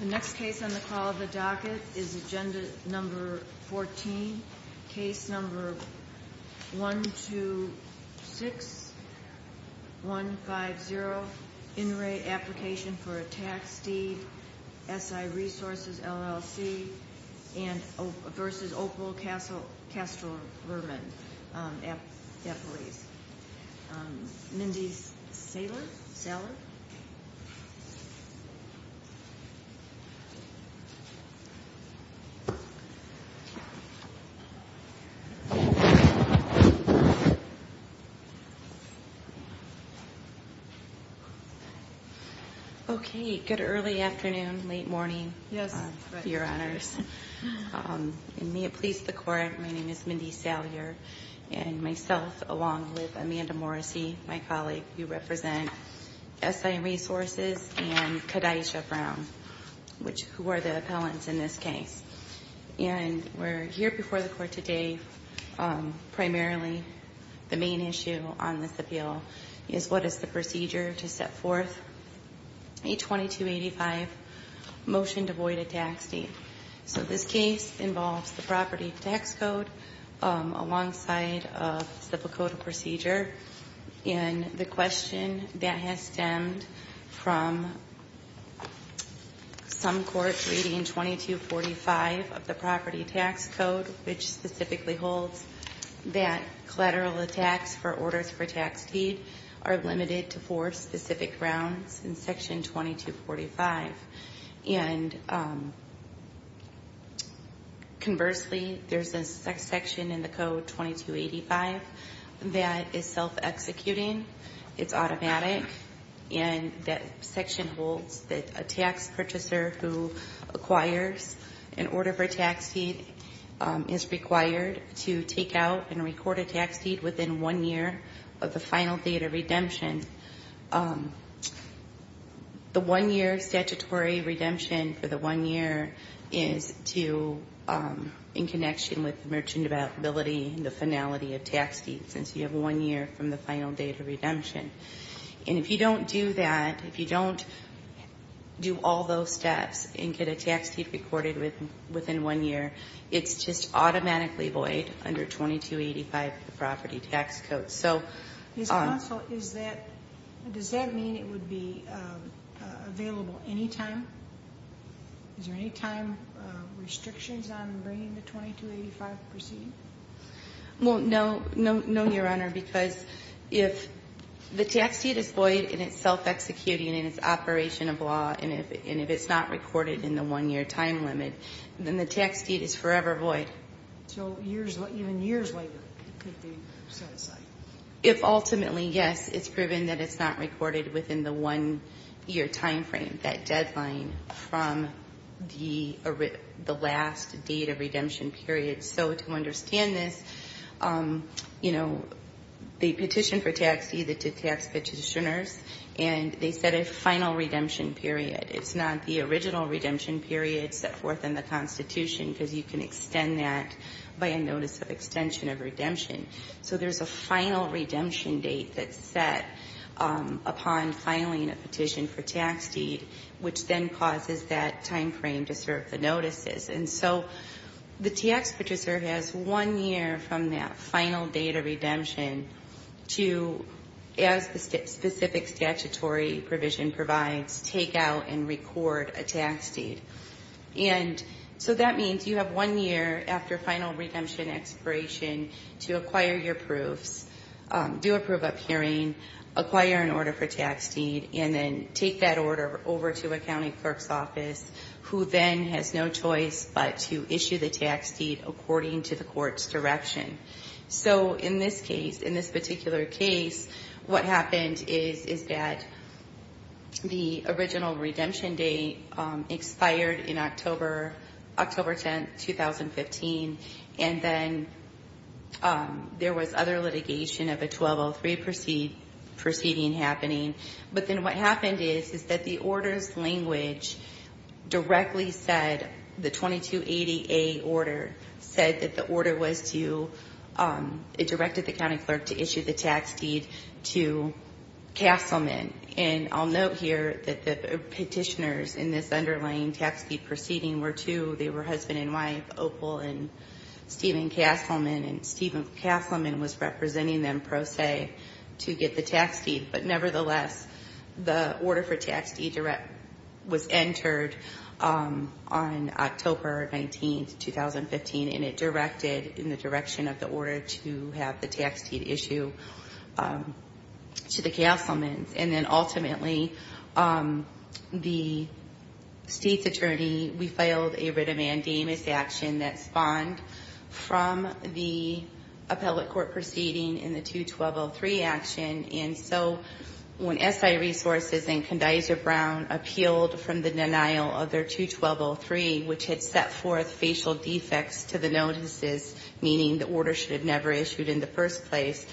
The next case on the call of the docket is Agenda Number 14, Case Number 126150, In Re Application for a Tax Deed, S.I. Resources, LLC, v. Opal Castro-Verman, Eppley's. Mindy Salyer. Okay. Good early afternoon, late morning. Yes. Your honors. And may it please the court, my name is Mindy Salyer, and myself, along with Amanda Morrissey, my colleague who represent S.I. Resources, and Kadisha Brown, who are the appellants in this case. And we're here before the court today. Primarily, the main issue on this appeal is what is the procedure to set forth? A 2285 motion to void a tax deed. So this case involves the property tax code alongside a simple code of procedure. And the question that has stemmed from some court reading 2245 of the property tax code, which specifically holds that collateral attacks for orders for tax deed are limited to four specific grounds in Section 2245. And conversely, there's a section in the code 2285 that is self-executing. It's automatic, and that section holds that a tax purchaser who acquires an order for tax deed is required to take out and record a tax deed within one year of the final date of redemption. And the one year statutory redemption for the one year is to, in connection with merchant availability, the finality of tax deed, since you have one year from the final date of redemption. And if you don't do that, if you don't do all those steps and get a tax deed recorded within one year, it's just automatically void under 2285 of the property tax code. Does that mean it would be available any time? Is there any time restrictions on bringing the 2285 proceeding? No, Your Honor, because if the tax deed is void and it's self-executing and it's operation of law, and if it's not recorded in the one year time limit, then the tax deed is forever void. So even years later, it could be set aside. If ultimately, yes, it's proven that it's not recorded within the one year time frame, that deadline from the last date of redemption period. So to understand this, you know, they petitioned for tax deed to tax petitioners, and they set a final redemption period. It's not the original redemption period set forth in the Constitution, because you can extend that by a notice of extension of redemption. So there's a final redemption date that's set upon filing a petition for tax deed, which then causes that time frame to serve the notices. And so the tax petitioner has one year from that final date of redemption to, as the specific statutory provision provides, take out and record a tax deed. And so that means you have one year after final redemption expiration to acquire your proofs, do a proof of hearing, acquire an order for tax deed, and then take that order over to a county clerk's office, who then has no choice but to issue the tax deed according to the court's direction. So in this case, in this particular case, what happened is that the original redemption date expired in October 10, 2015, and then there was other litigation of a 1203 proceeding happening. But then what happened is, is that the order's language directly said, the 2280A order said that the order was to, it directed the county clerk to issue the tax deed to Castleman. And I'll note here that the petitioners in this underlying tax deed proceeding were two. They were husband and wife, Opal and Stephen Castleman, and Stephen Castleman was representing them pro se to get the tax deed. But nevertheless, the order for tax deed was entered on October 19, 2015, and it directed in the direction of the order to have the tax deed issued to the Castlemans. And then ultimately, the state's attorney, we filed a writ of mandamus action that spawned from the appellate court proceeding in the 2203 action. And so when SI Resources and Condizer Brown appealed from the denial of their 2203, which had set forth facial defects to the notices, meaning the order should have never issued in the first place,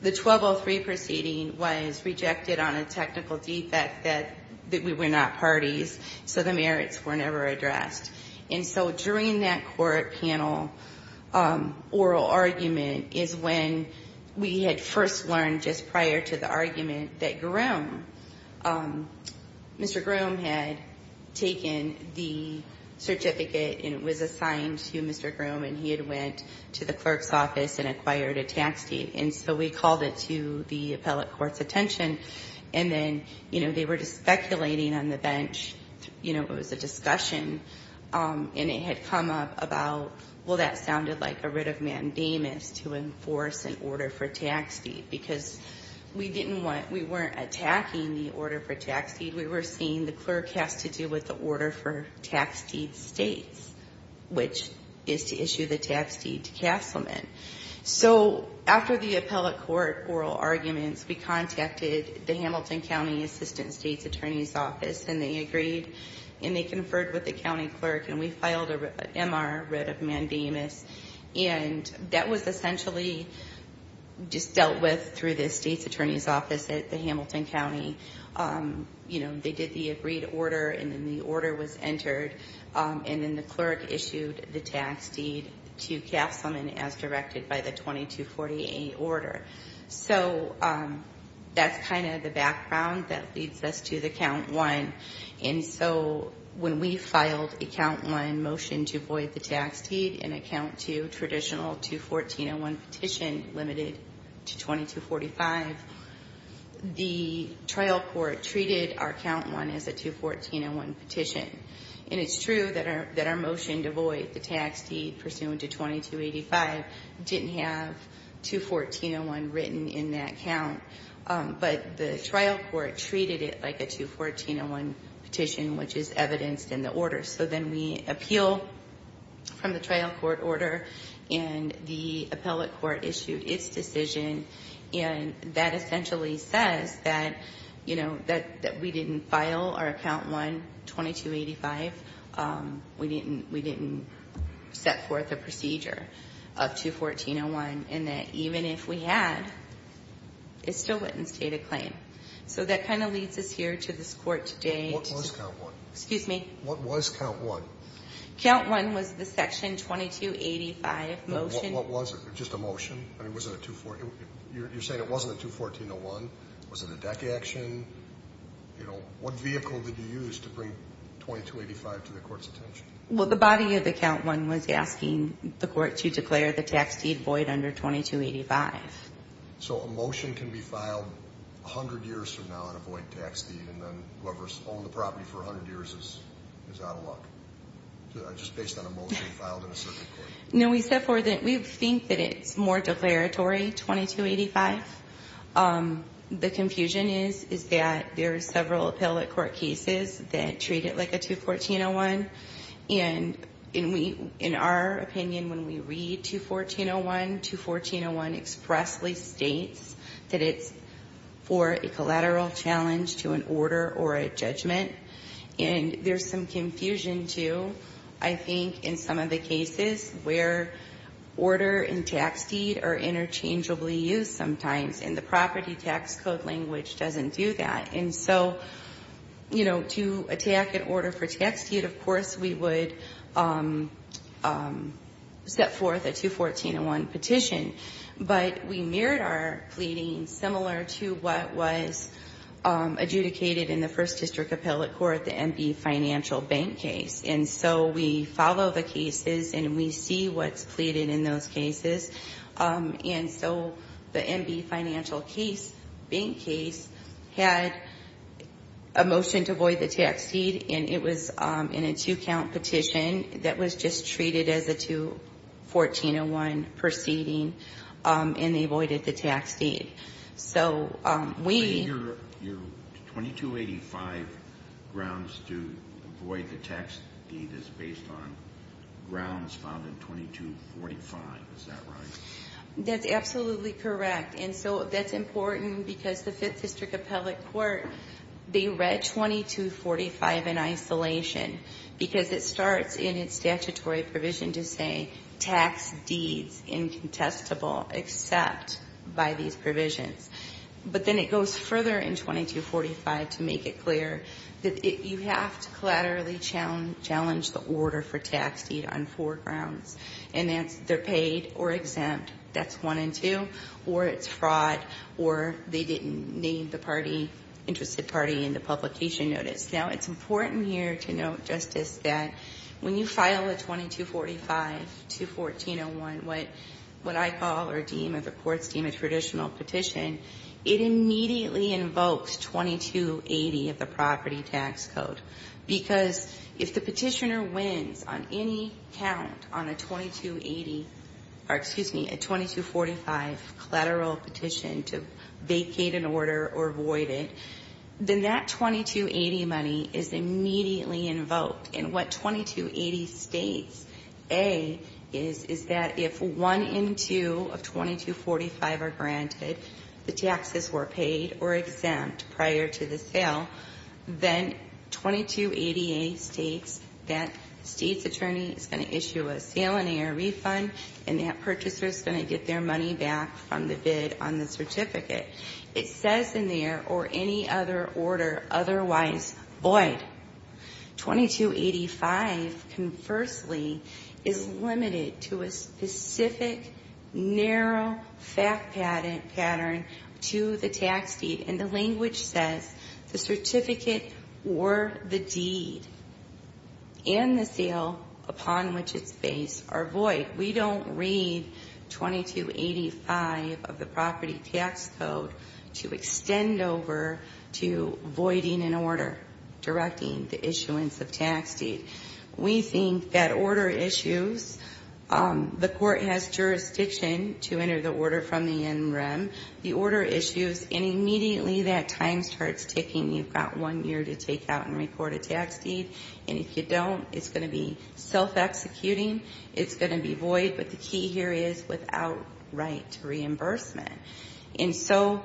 the 2203 proceeding was rejected on a technical defect that we were not parties, so the merits were never addressed. And so during that court panel oral argument is when we had first learned, just prior to the argument, that Mr. Groom had taken the certificate and was assigned to Mr. Groom. And he had went to the clerk's office and acquired a tax deed. And so we called it to the appellate court's attention, and then, you know, they were just speculating on the bench. You know, it was a discussion, and it had come up about, well, that sounded like a writ of mandamus to enforce an order for tax deed. Because we didn't want, we weren't attacking the order for tax deed. We were saying the clerk has to do with the order for tax deed states, which is to issue the tax deed to Castleman. So after the appellate court oral arguments, we contacted the Hamilton County Assistant State's Attorney's Office, and they agreed, and they conferred with the county clerk. And we filed a MR, writ of mandamus, and that was essentially just dealt with through the state's attorney's office at the Hamilton County. You know, they did the agreed order, and then the order was entered. And then the clerk issued the tax deed to Castleman as directed by the 2248 order. So that's kind of the background that leads us to the count one. And so when we filed a count one motion to void the tax deed in account to traditional 214.01 petition limited to 2245, the trial court treated our count one as a 214.01 petition. And it's true that our motion to void the tax deed pursuant to 2285 didn't have 214.01 written in that count. But the trial court treated it like a 214.01 petition, which is evidenced in the order. So then we appeal from the trial court order, and the appellate court issued its decision. And that essentially says that, you know, that we didn't file our count one 2285. We didn't set forth a procedure of 214.01, and that even if we had, it still wouldn't state a claim. So that kind of leads us here to this court today. What was count one? Excuse me? What was count one? Count one was the section 2285 motion. What was it? Just a motion? I mean, was it a 214.01? You're saying it wasn't a 214.01. Was it a deck action? What vehicle did you use to bring 2285 to the court's attention? Well, the body of the count one was asking the court to declare the tax deed void under 2285. So a motion can be filed 100 years from now and a void tax deed, and then whoever's owned the property for 100 years is out of luck? Just based on a motion filed in a circuit court? No, we think that it's more declaratory, 2285. The confusion is that there are several appellate court cases that treat it like a 214.01, and in our opinion, when we read 214.01, 214.01 expressly states that it's for a collateral challenge to an order or a judgment. And there's some confusion, too, I think, in some of the cases where order and tax deed are interchangeably used sometimes, and the property tax code language doesn't do that. And so, you know, to attack an order for tax deed, of course, we would set forth a 214.01 petition. But we mirrored our pleading similar to what was adjudicated in the first district appellate court, the MB Financial Bank case. And so we follow the cases and we see what's pleaded in those cases. And so the MB Financial Bank case had a motion to void the tax deed, and it was in a two-count petition that was just treated as a 214.01 proceeding, and they voided the tax deed. So we... Your 2285 grounds to void the tax deed is based on grounds found in 2245. Is that right? That's absolutely correct. And so that's important because the 5th District Appellate Court, they read 2245 in isolation because it starts in its statutory provision to say tax deeds incontestable except by these provisions. But then it goes further in 2245 to make it clear that you have to collaterally challenge the order for tax deed on four grounds, and that's they're paid or exempt. That's one and two, or it's fraud, or they didn't name the party, interested party in the publication notice. Now, it's important here to note, Justice, that when you file a 2245 to 1401, what I call or deem of the courts deem a traditional petition, it immediately invokes 2280 of the property tax code because if the petitioner wins on any count on a 2280, or excuse me, a 2245 collateral petition to vacate an order or void it, then that 2280 money is immediately invoked. And what 2280 states, A, is, is that if one in two of 2245 are granted, the taxes were paid or exempt prior to the sale, then 2280A states that the state's attorney is going to issue a sale-in-air refund, and that purchaser is going to get their money back from the bid on the certificate. It says in there, or any other order otherwise void. 2285, conversely, is limited to a specific, narrow fact pattern to the tax deed, and the language says the certificate or the deed and the sale upon which it's based are void. We don't read 2285 of the property tax code to extend over to voiding an order, directing the issuance of tax deed. We think that order issues, the court has jurisdiction to enter the order from the NREM. The order issues, and immediately that time starts ticking. You've got one year to take out and report a tax deed, and if you don't, it's going to be self-executing. It's going to be void, but the key here is without right to reimbursement. And so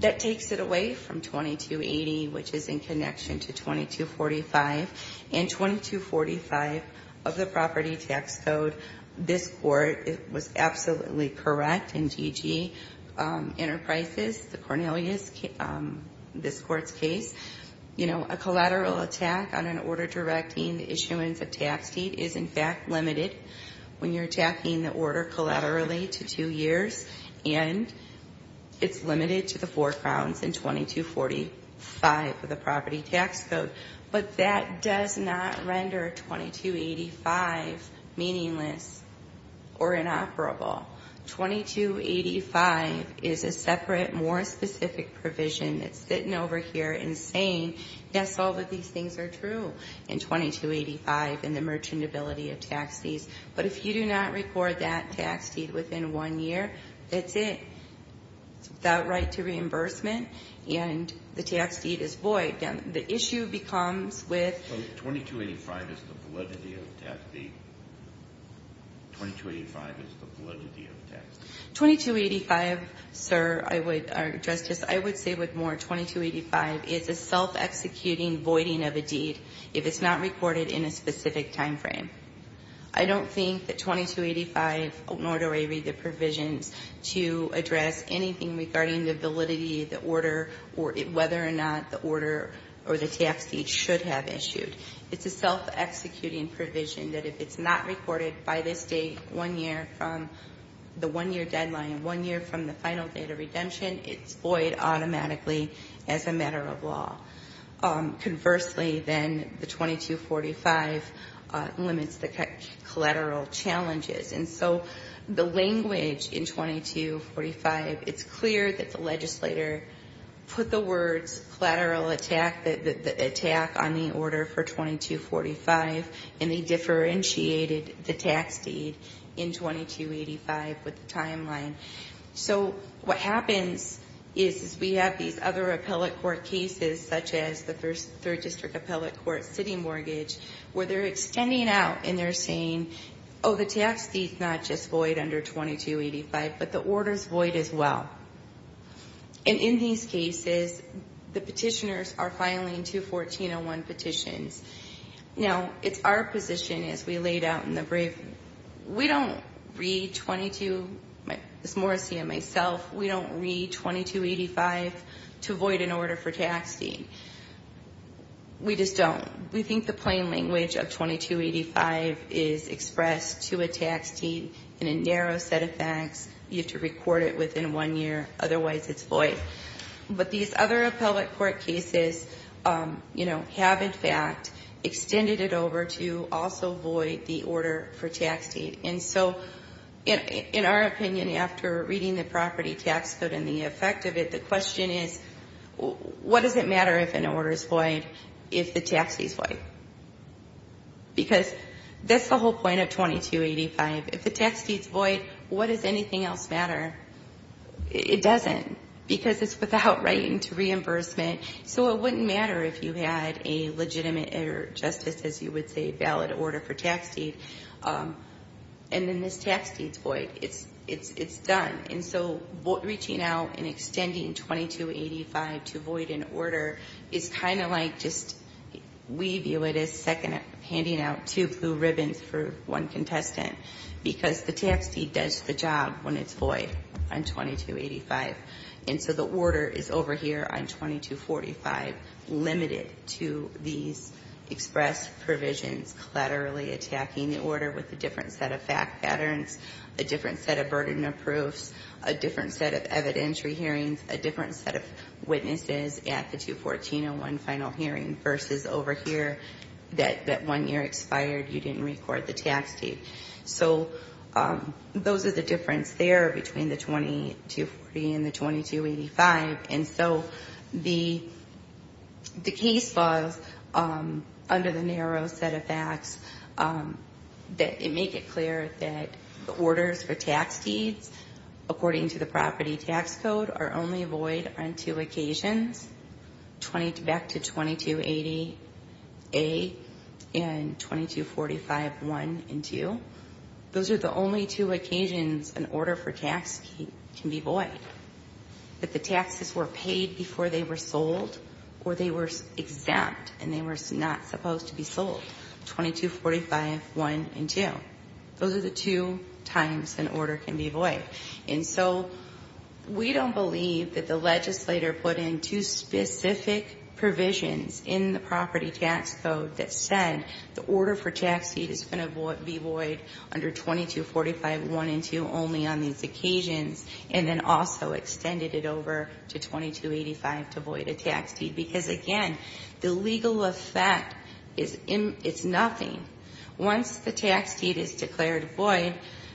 that takes it away from 2280, which is in connection to 2245, and 2245 of the property tax code. This court was absolutely correct in T.G. Enterprises, the Cornelius, this court's case. You know, a collateral attack on an order directing the issuance of tax deed is in fact limited when you're attacking the order collaterally to two years, and it's limited to the four crowns in 2245 of the property tax code. But that does not render 2285 meaningless or inoperable. 2285 is a separate, more specific provision that's sitting over here and saying, yes, all of these things are true in 2285 in the merchantability of tax deeds, but if you do not record that tax deed within one year, that's it. It's without right to reimbursement, and the tax deed is void. The issue becomes with 2285 is the validity of the tax deed. 2285 is the validity of the tax deed. 2285, sir, I would, Justice, I would say with more, 2285 is a self-executing voiding of a deed if it's not recorded in a specific time frame. I don't think that 2285 nor do I read the provisions to address anything regarding the validity of the order or whether or not the order or the tax deed should have issued. It's a self-executing provision that if it's not recorded by this date one year from the one-year deadline and one year from the final date of redemption, it's void automatically as a matter of law. Conversely, then the 2245 limits the collateral challenges. And so the language in 2245, it's clear that the legislator put the words collateral attack, the attack on the order for 2245, and they differentiated the tax deed in 2285 with the timeline. So what happens is we have these other appellate court cases such as the Third District Appellate Court City Mortgage where they're extending out and they're saying, oh, the tax deed's not just void under 2285, but the order's void as well. And in these cases, the petitioners are filing two 1401 petitions. Now, it's our position as we laid out in the brief, we don't read 22, Ms. Morrissey and myself, we don't read 2285 to void an order for tax deed. We just don't. We think the plain language of 2285 is expressed to a tax deed in a narrow set of facts. You have to record it within one year. Otherwise, it's void. But these other appellate court cases, you know, have, in fact, extended it over to also void the order for tax deed. And so in our opinion, after reading the property tax code and the effect of it, the question is, what does it matter if an order's void if the tax deed's void? Because that's the whole point of 2285. If the tax deed's void, what does anything else matter? It doesn't because it's without writing to reimbursement. So it wouldn't matter if you had a legitimate or justice, as you would say, valid order for tax deed. And then this tax deed's void. It's done. And so reaching out and extending 2285 to void an order is kind of like just we view it as second handing out two blue ribbons for one contestant because the tax deed does the job when it's void on 2285. And so the order is over here on 2245 limited to these express provisions collaterally attacking the order with a different set of fact patterns, a different set of burden of proofs, a different set of evidentiary hearings, a different set of witnesses at the 21401 final hearing versus over here that one year expired, you didn't record the tax deed. So those are the difference there between the 2240 and the 2285. And so the case files under the narrow set of facts make it clear that the orders for tax deeds, according to the property tax code, are only void on two occasions, back to 2280A and 2245.1 and 2. Those are the only two occasions an order for tax deed can be void. That the taxes were paid before they were sold or they were exempt and they were not supposed to be sold. 2245.1 and 2. Those are the two times an order can be void. And so we don't believe that the legislator put in two specific provisions in the property tax code that said the order for tax deed is going to be void under 2245.1 and 2 only on these occasions and then also extended it over to 2285 to void a tax deed. Because again, the legal effect is nothing. Once the tax deed is declared void,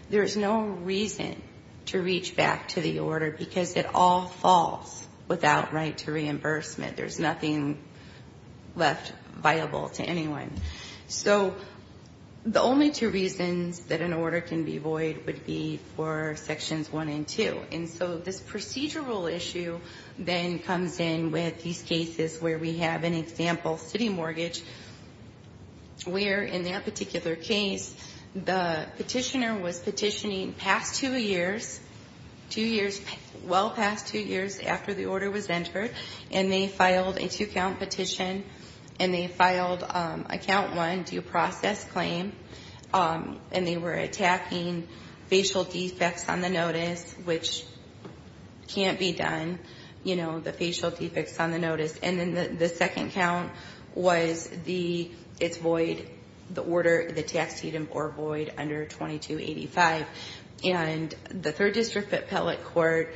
there's no reason to reach back to the order because it all falls without right to reimbursement. There's nothing left viable to anyone. So the only two reasons that an order can be void would be for sections 1 and 2. And so this procedural issue then comes in with these cases where we have an example city mortgage where in that particular case, the petitioner was petitioning past two years, two years, well past two years after the order was entered, and they filed a two-count petition and they filed a count one due process claim and they were attacking facial defects on the notice, which can't be done, you know, the facial defects on the notice. And then the second count was its void, the order, the tax deed, or void under 2285. And the third district appellate court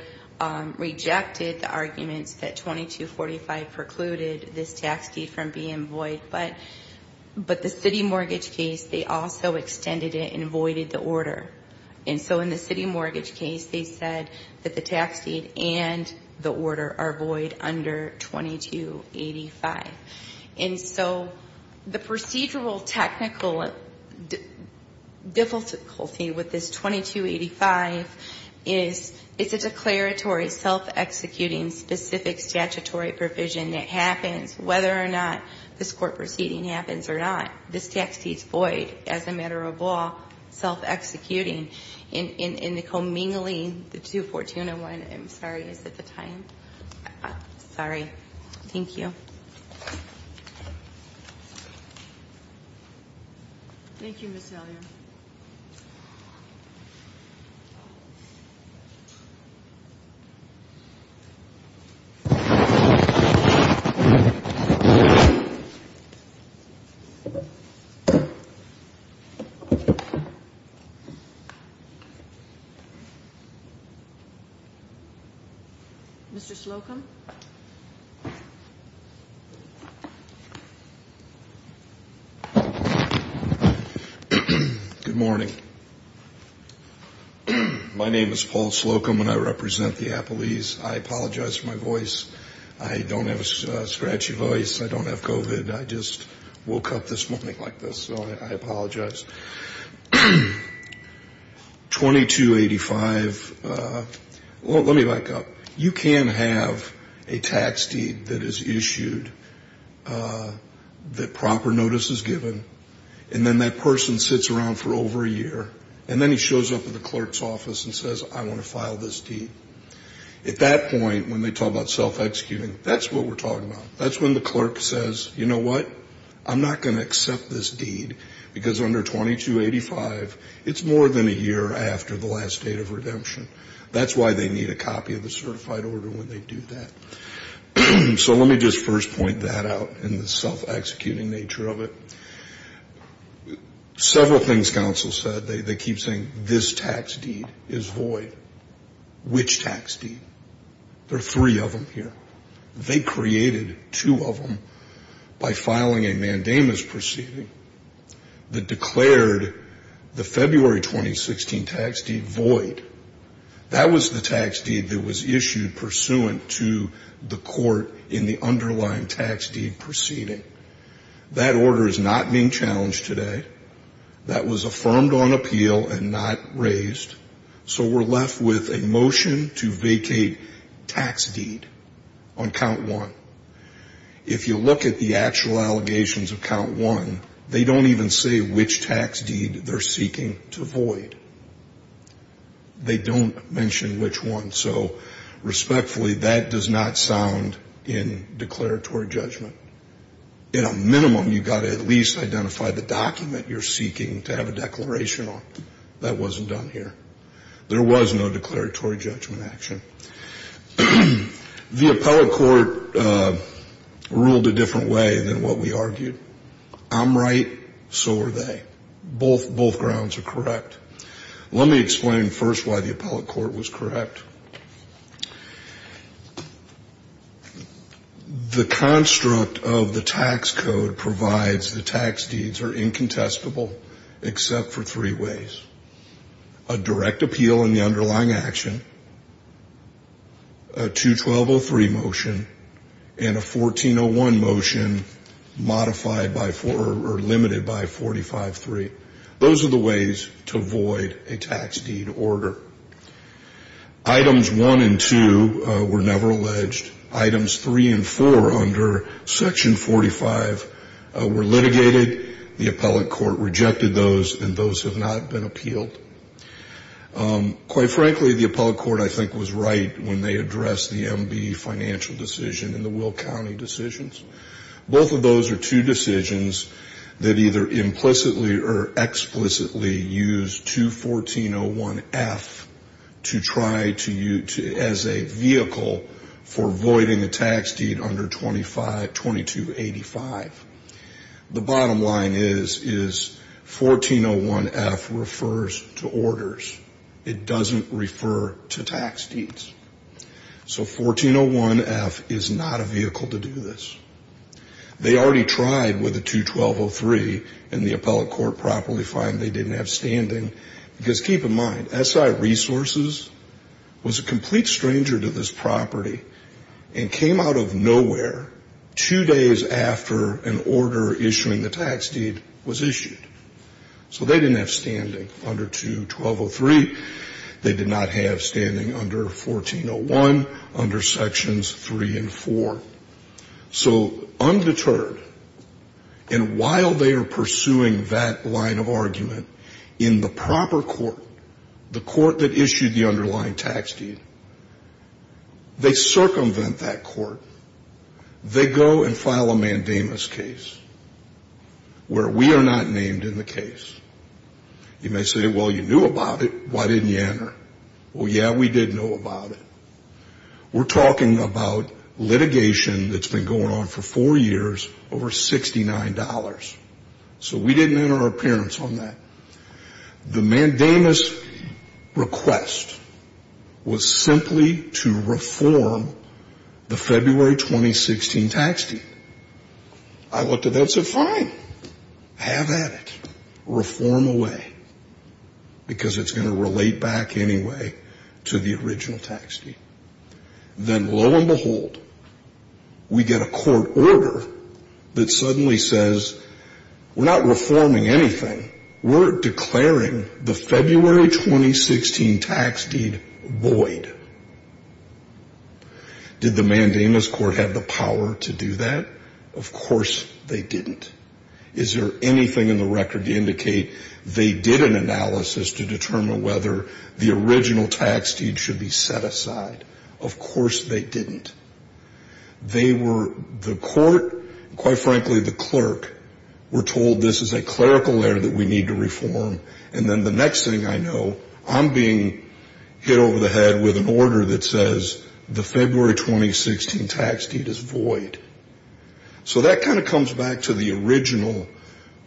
rejected the arguments that 2245 precluded this tax deed from being void, but the city mortgage case, they also extended it and voided the order. And so in the city mortgage case, they said that the tax deed and the order are void under 2285. And so the procedural technical difficulty with this 2285 is it's a declaratory self-executing specific statutory provision that happens whether or not this court proceeding happens or not. This tax deed's void as a matter of law, self-executing. And Nicole Mingley, the 21401, I'm sorry, is that the time? Sorry. Thank you. Thank you, Ms. Hellier. Mr. Slocum. Good morning. My name is Paul Slocum, and I represent the appellees. I apologize for my voice. I don't have a scratchy voice. I don't have COVID. I just woke up this morning like this, so I apologize. 2285, well, let me back up. You can have a tax deed that is issued, that proper notice is given, and then that person sits around for over a year, and then he shows up at the clerk's office and says, I want to file this deed. At that point, when they talk about self-executing, that's what we're talking about. That's when the clerk says, you know what, I'm not going to accept this deed because under 2285, it's more than a year after the last date of redemption. That's why they need a copy of the certified order when they do that. So let me just first point that out in the self-executing nature of it. Several things counsel said, they keep saying this tax deed is void. Which tax deed? There are three of them here. They created two of them by filing a mandamus proceeding that declared the February 2016 tax deed void. That was the tax deed that was issued pursuant to the court in the underlying tax deed proceeding. That order is not being challenged today. That was affirmed on appeal and not raised. So we're left with a motion to vacate tax deed on count one. If you look at the actual allegations of count one, they don't even say which tax deed they're seeking to void. They don't mention which one. So respectfully, that does not sound in declaratory judgment. At a minimum, you've got to at least identify the document you're seeking to have a declaration on. That wasn't done here. There was no declaratory judgment action. The appellate court ruled a different way than what we argued. I'm right, so are they. Both grounds are correct. Let me explain first why the appellate court was correct. The construct of the tax code provides the tax deeds are incontestable except for three ways. A direct appeal in the underlying action, a 2-1203 motion, and a 14-01 motion modified by four or limited by 45-3. Those are the ways to void a tax deed order. Items one and two were never alleged. Items three and four under section 45 were litigated. The appellate court rejected those, and those have not been appealed. Quite frankly, the appellate court, I think, was right when they addressed the MB financial decision and the Will County decisions. Both of those are two decisions that either implicitly or explicitly use 2-1401-F as a vehicle for voiding a tax deed under 2285. The bottom line is 14-01-F refers to orders. It doesn't refer to tax deeds. So 14-01-F is not a vehicle to do this. They already tried with a 2-1203, and the appellate court properly found they didn't have standing. Because keep in mind, SI Resources was a complete stranger to this property and came out of nowhere two days after an order issuing the tax deed was issued. So they didn't have standing under 2-1203. They did not have standing under 14-01, under sections three and four. So undeterred, and while they are pursuing that line of argument, in the proper court, the court that issued the underlying tax deed, they circumvent that court. They go and file a mandamus case where we are not named in the case. You may say, well, you knew about it. Why didn't you enter? Well, yeah, we did know about it. We're talking about litigation that's been going on for four years over $69. So we didn't enter our appearance on that. The mandamus request was simply to reform the February 2016 tax deed. I looked at that and said, fine, have at it. Reform away. Because it's going to relate back anyway to the original tax deed. Then lo and behold, we get a court order that suddenly says, we're not reforming anything. We're declaring the February 2016 tax deed void. Did the mandamus court have the power to do that? Of course they didn't. Is there anything in the record to indicate they did an analysis to determine whether the original tax deed should be set aside? Of course they didn't. They were, the court, quite frankly the clerk, were told this is a clerical error that we need to reform. And then the next thing I know, I'm being hit over the head with an order that says the February 2016 tax deed is void. So that kind of comes back to the original,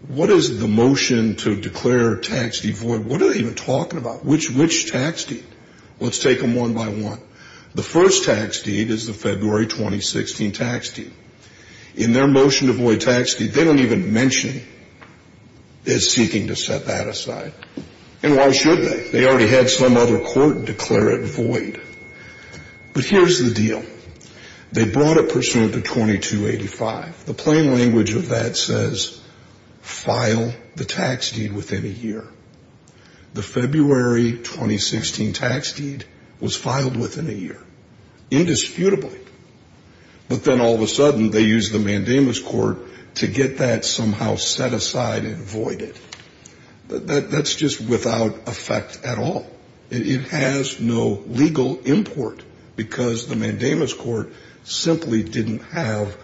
what is the motion to declare tax deed void? What are they even talking about? Which tax deed? Let's take them one by one. The first tax deed is the February 2016 tax deed. In their motion to void tax deed, they don't even mention it as seeking to set that aside. And why should they? They already had some other court declare it void. But here's the deal. They brought it pursuant to 2285. The plain language of that says file the tax deed within a year. The February 2016 tax deed was filed within a year, indisputably. But then all of a sudden they used the mandamus court to get that somehow set aside and voided. That's just without effect at all. It has no legal import because the mandamus court simply didn't have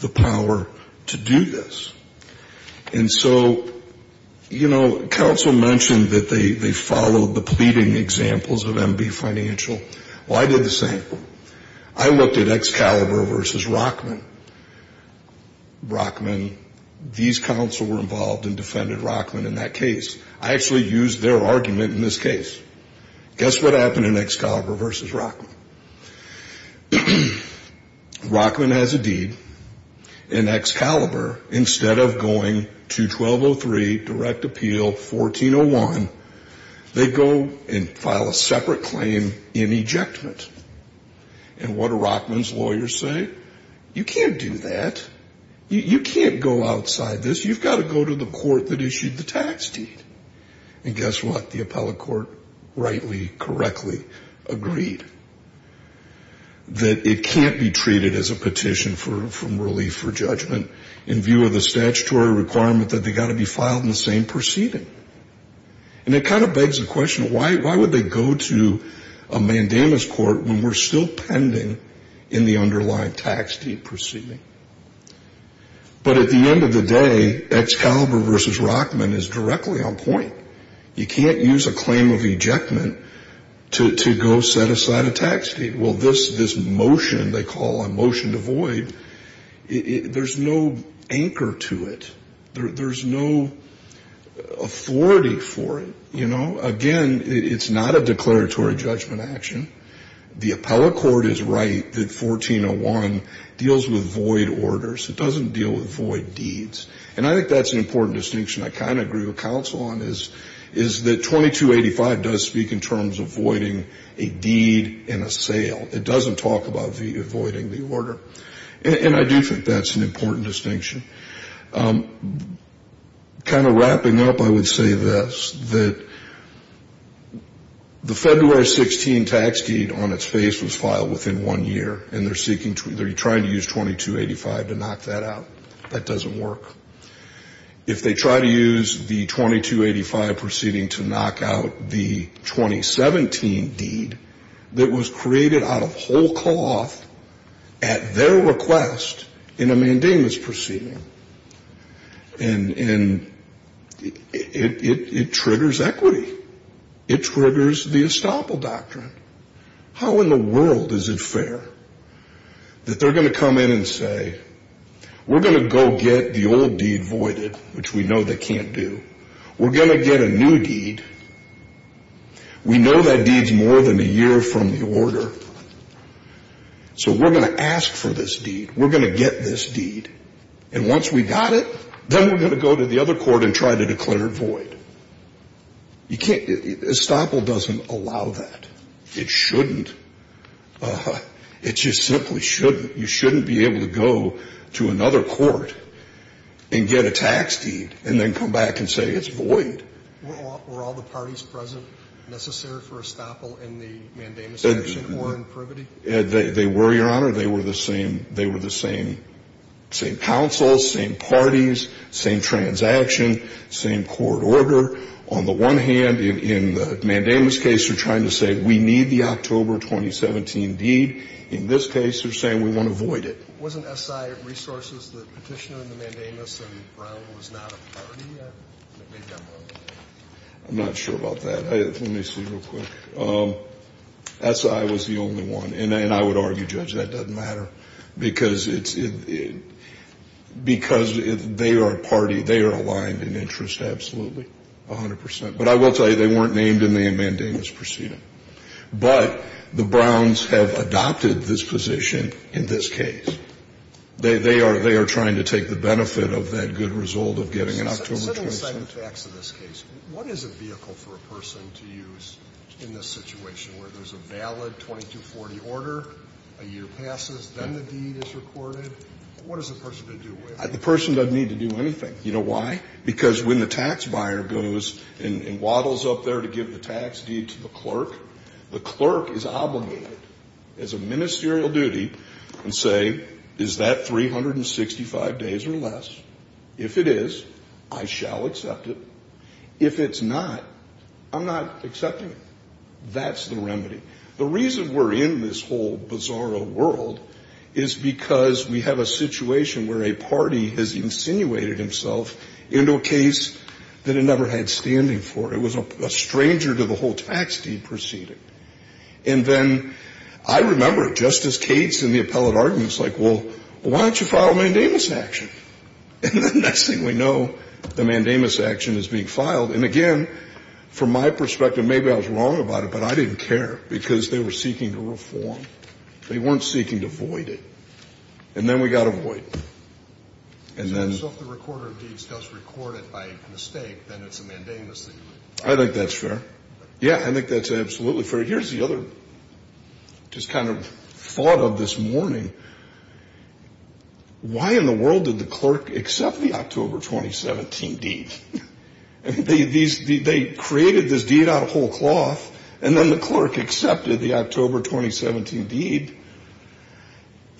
the power to do this. And so, you know, counsel mentioned that they followed the pleading examples of MB Financial. Well, I did the same. I looked at Excalibur versus Rockman. Rockman, these counsel were involved and defended Rockman in that case. I actually used their argument in this case. Guess what happened in Excalibur versus Rockman? Rockman has a deed. In Excalibur, instead of going to 1203, direct appeal, 1401, they go and file a separate claim in ejectment. And what do Rockman's lawyers say? You can't do that. You can't go outside this. You've got to go to the court that issued the tax deed. And guess what? The appellate court rightly, correctly agreed that it can't be treated as a petition from relief for judgment in view of the statutory requirement that they've got to be filed in the same proceeding. And it kind of begs the question, why would they go to a mandamus court when we're still pending in the underlying tax deed proceeding? But at the end of the day, Excalibur versus Rockman is directly on point. You can't use a claim of ejectment to go set aside a tax deed. Well, this motion they call a motion to void, there's no anchor to it. There's no authority for it, you know. Again, it's not a declaratory judgment action. The appellate court is right that 1401 deals with void orders. It doesn't deal with void deeds. And I think that's an important distinction I kind of agree with counsel on. Is that 2285 does speak in terms of voiding a deed and a sale. It doesn't talk about voiding the order. And I do think that's an important distinction. Kind of wrapping up, I would say this, that the February 16 tax deed on its face was filed within one year. And they're trying to use 2285 to knock that out. That doesn't work. If they try to use the 2285 proceeding to knock out the 2017 deed that was created out of whole cloth at their request in a mandamus proceeding. And it triggers equity. It triggers the estoppel doctrine. How in the world is it fair that they're going to come in and say, We're going to go get the old deed voided, which we know they can't do. We're going to get a new deed. We know that deed's more than a year from the order. So we're going to ask for this deed. We're going to get this deed. And once we got it, then we're going to go to the other court and try to declare it void. Estoppel doesn't allow that. It shouldn't. It just simply shouldn't. You shouldn't be able to go to another court and get a tax deed and then come back and say it's void. Were all the parties present necessary for estoppel in the mandamus action or in privity? They were, Your Honor. They were the same counsel, same parties, same transaction, same court order. On the one hand, in the mandamus case, they're trying to say we need the October 2017 deed. In this case, they're saying we want to void it. Wasn't S.I. Resources the petitioner in the mandamus and Brown was not a party that made that motion? I'm not sure about that. Let me see real quick. S.I. was the only one. And I would argue, Judge, that doesn't matter because they are a party. They are aligned in interest absolutely, 100 percent. But I will tell you, they weren't named in the mandamus proceeding. But the Browns have adopted this position in this case. They are trying to take the benefit of that good result of getting an October 2017. What is a vehicle for a person to use in this situation where there's a valid 2240 order, a year passes, then the deed is recorded? What does the person have to do with it? The person doesn't need to do anything. You know why? Because when the tax buyer goes and waddles up there to give the tax deed to the clerk, the clerk is obligated as a ministerial duty to say, is that 365 days or less? If it is, I shall accept it. If it's not, I'm not accepting it. That's the remedy. The reason we're in this whole bizarro world is because we have a situation where a party has insinuated himself into a case that it never had standing for. It was a stranger to the whole tax deed proceeding. And then I remember Justice Cates in the appellate argument was like, well, why don't you file a mandamus action? And the next thing we know, the mandamus action is being filed. And again, from my perspective, maybe I was wrong about it, but I didn't care because they were seeking a reform. They weren't seeking to void it. And then we got a void. So if the recorder of deeds does record it by mistake, then it's a mandamus that you would file? I think that's fair. Yeah, I think that's absolutely fair. Here's the other just kind of thought of this morning. Why in the world did the clerk accept the October 2017 deed? They created this deed out of whole cloth, and then the clerk accepted the October 2017 deed.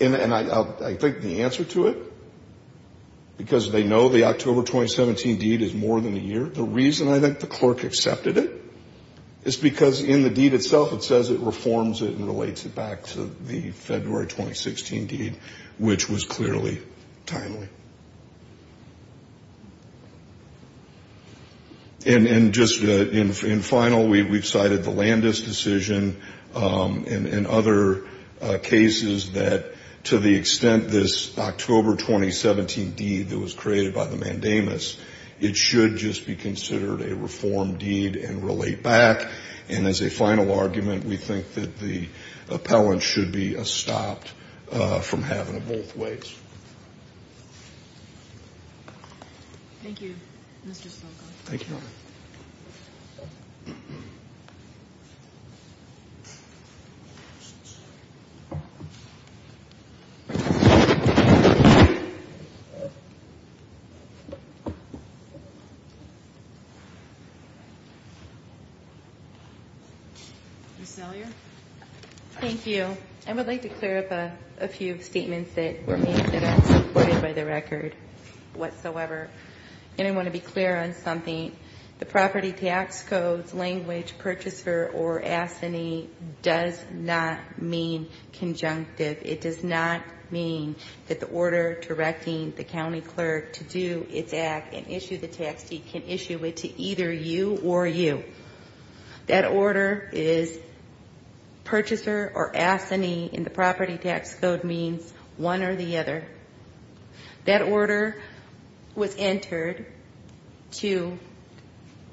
And I think the answer to it, because they know the October 2017 deed is more than a year, the reason I think the clerk accepted it is because in the deed itself it says it reforms it and relates it back to the February 2016 deed, which was clearly timely. And just in final, we've cited the Landis decision and other cases that to the extent this October 2017 deed that was created by the mandamus, it should just be considered a reformed deed and relate back. And as a final argument, we think that the appellant should be stopped from having it both ways. Thank you very much. Thank you, Mr. Sloco. Thank you. Ms. Zellier. Thank you. I would like to clear up a few statements that were made that aren't supported by the record whatsoever. And I want to be clear on something. The property tax codes, language, purchaser, or assignee does not mean conjunctive. It does not mean that the order directing the county clerk to do its act and issue the tax deed can issue it to either you or you. That order is purchaser or assignee in the property tax code means one or the other. That order was entered to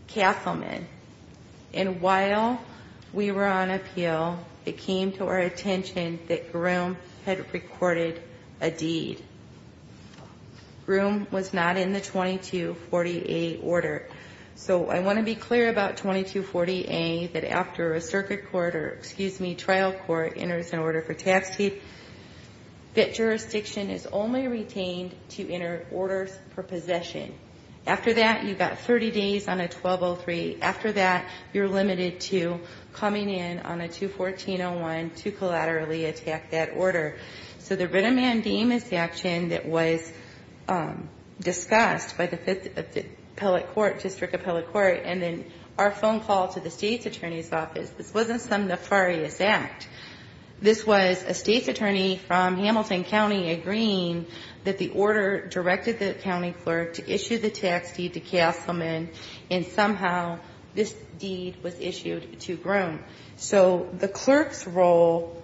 Castleman. And while we were on appeal, it came to our attention that Groom had recorded a deed. Groom was not in the 2248 order. So I want to be clear about 2248 that after a circuit court or, excuse me, trial court enters an order for tax deed, that jurisdiction is only retained to enter orders for possession. After that, you've got 30 days on a 1203. After that, you're limited to coming in on a 21401 to collaterally attack that order. So the writ of mandamus action that was discussed by the district appellate court and then our phone call to the state's attorney's office, this wasn't some nefarious act. This was a state's attorney from Hamilton County agreeing that the order directed the county clerk to issue the tax deed to Castleman, and somehow this deed was issued to Groom. So the clerk's role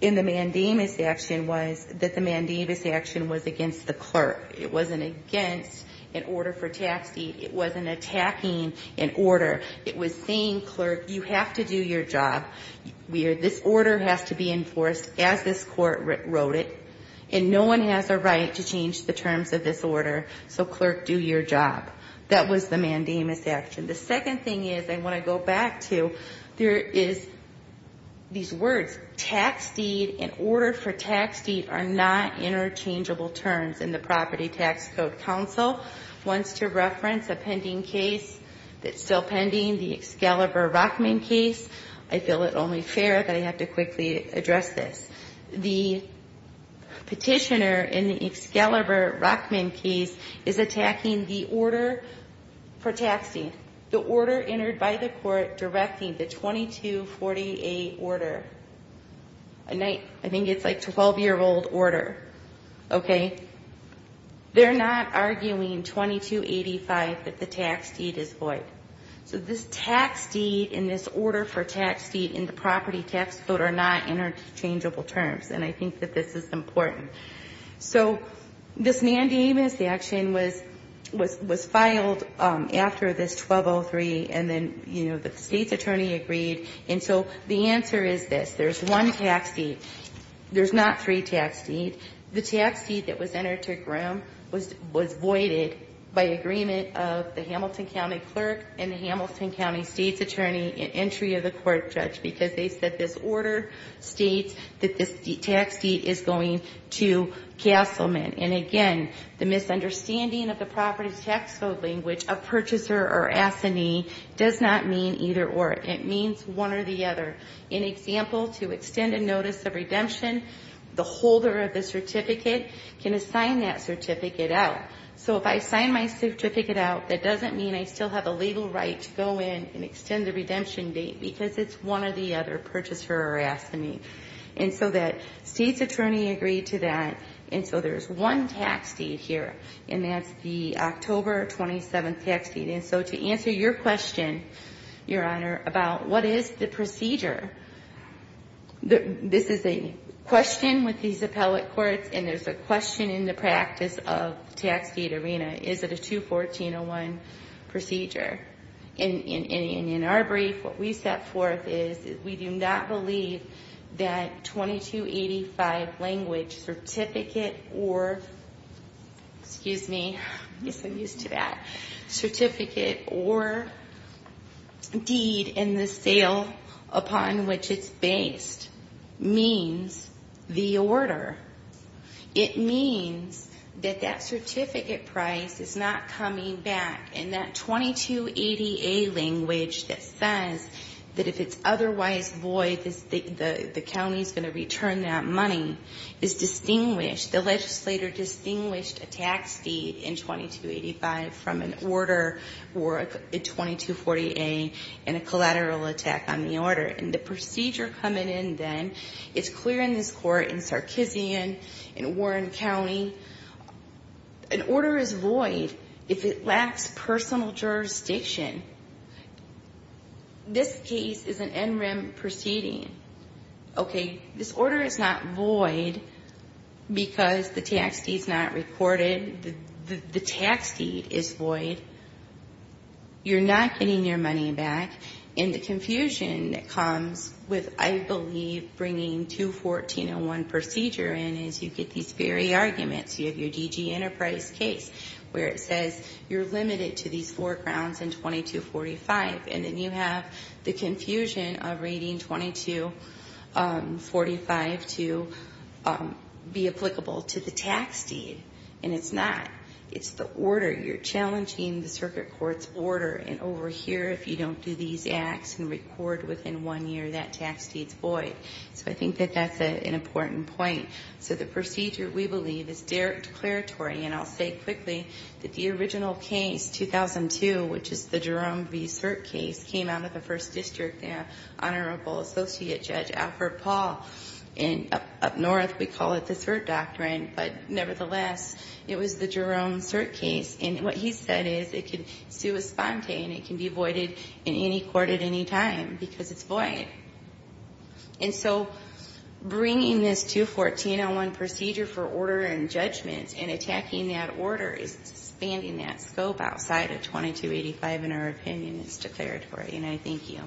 in the mandamus action was that the mandamus action was against the clerk. It wasn't against an order for tax deed. It wasn't attacking an order. It was saying, clerk, you have to do your job. This order has to be enforced as this court wrote it, and no one has a right to change the terms of this order. So, clerk, do your job. That was the mandamus action. The second thing is I want to go back to, there is these words. Tax deed and order for tax deed are not interchangeable terms in the Property Tax Code. Council wants to reference a pending case that's still pending, the Excalibur-Rockman case. I feel it only fair that I have to quickly address this. The petitioner in the Excalibur-Rockman case is attacking the order for tax deed. The order entered by the court directing the 2248 order. I think it's like 12-year-old order. Okay? They're not arguing 2285 that the tax deed is void. So this tax deed and this order for tax deed in the Property Tax Code are not interchangeable terms, and I think that this is important. So this mandamus action was filed after this 1203, and then, you know, the state's attorney agreed. And so the answer is this. There's one tax deed. There's not three tax deeds. The tax deed that was entered to Grimm was voided by agreement of the Hamilton County clerk and the Hamilton County state's attorney and entry of the court judge because they said this order states that this tax deed is going to Castleman. And, again, the misunderstanding of the Property Tax Code language of purchaser or assignee does not mean either or. It means one or the other. In example, to extend a notice of redemption, the holder of the certificate can assign that certificate out. So if I sign my certificate out, that doesn't mean I still have a legal right to go in and extend the redemption date because it's one or the other, purchaser or assignee. And so the state's attorney agreed to that, and so there's one tax deed here, and that's the October 27th tax deed. And so to answer your question, Your Honor, about what is the procedure, this is a question with these appellate courts, and there's a question in the practice of Tax Deed Arena. Is it a 214-01 procedure? And in our brief, what we set forth is we do not believe that 2285 language certificate or, excuse me, I guess I'm used to that, certificate or deed in the sale upon which it's based means the order. It means that that certificate price is not coming back, and that 2280A language that says that if it's otherwise void, the county's going to return that money is distinguished. The legislator distinguished a tax deed in 2285 from an order or a 2240A and a collateral attack on the order. And the procedure coming in then is clear in this court in Sarkeesian, in Warren County. An order is void if it lacks personal jurisdiction. This case is an NREM proceeding. Okay, this order is not void because the tax deed's not recorded. The tax deed is void. You're not getting your money back. And the confusion that comes with, I believe, bringing 214-01 procedure in is you get these very arguments. You have your DG Enterprise case where it says you're limited to these four grounds in 2245, and then you have the confusion of rating 2245 to be applicable to the tax deed, and it's not. It's the order. You're challenging the circuit court's order. And over here, if you don't do these acts and record within one year, that tax deed's void. So I think that that's an important point. So the procedure, we believe, is declaratory. And I'll say quickly that the original case, 2002, which is the Jerome v. Cert case, came out of the First District, Honorable Associate Judge Alfred Paul. And up north, we call it the Cert Doctrine. But nevertheless, it was the Jerome Cert case. And what he said is it can sue a sponte, and it can be voided in any court at any time because it's void. And so bringing this 214-01 procedure for order and judgment and attacking that order is expanding that scope outside of 2285 in our opinion. It's declaratory. And I thank you.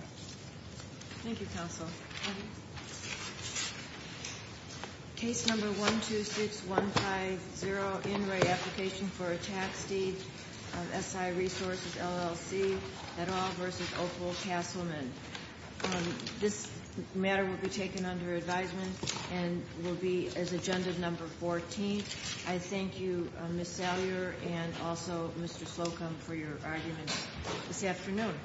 Thank you, counsel. Case number 126150, in-ray application for a tax deed, SI Resources, LLC, et al. v. Opal Castleman. This matter will be taken under advisement and will be as agenda number 14. I thank you, Ms. Salyer, and also Mr. Slocum, for your arguments this afternoon.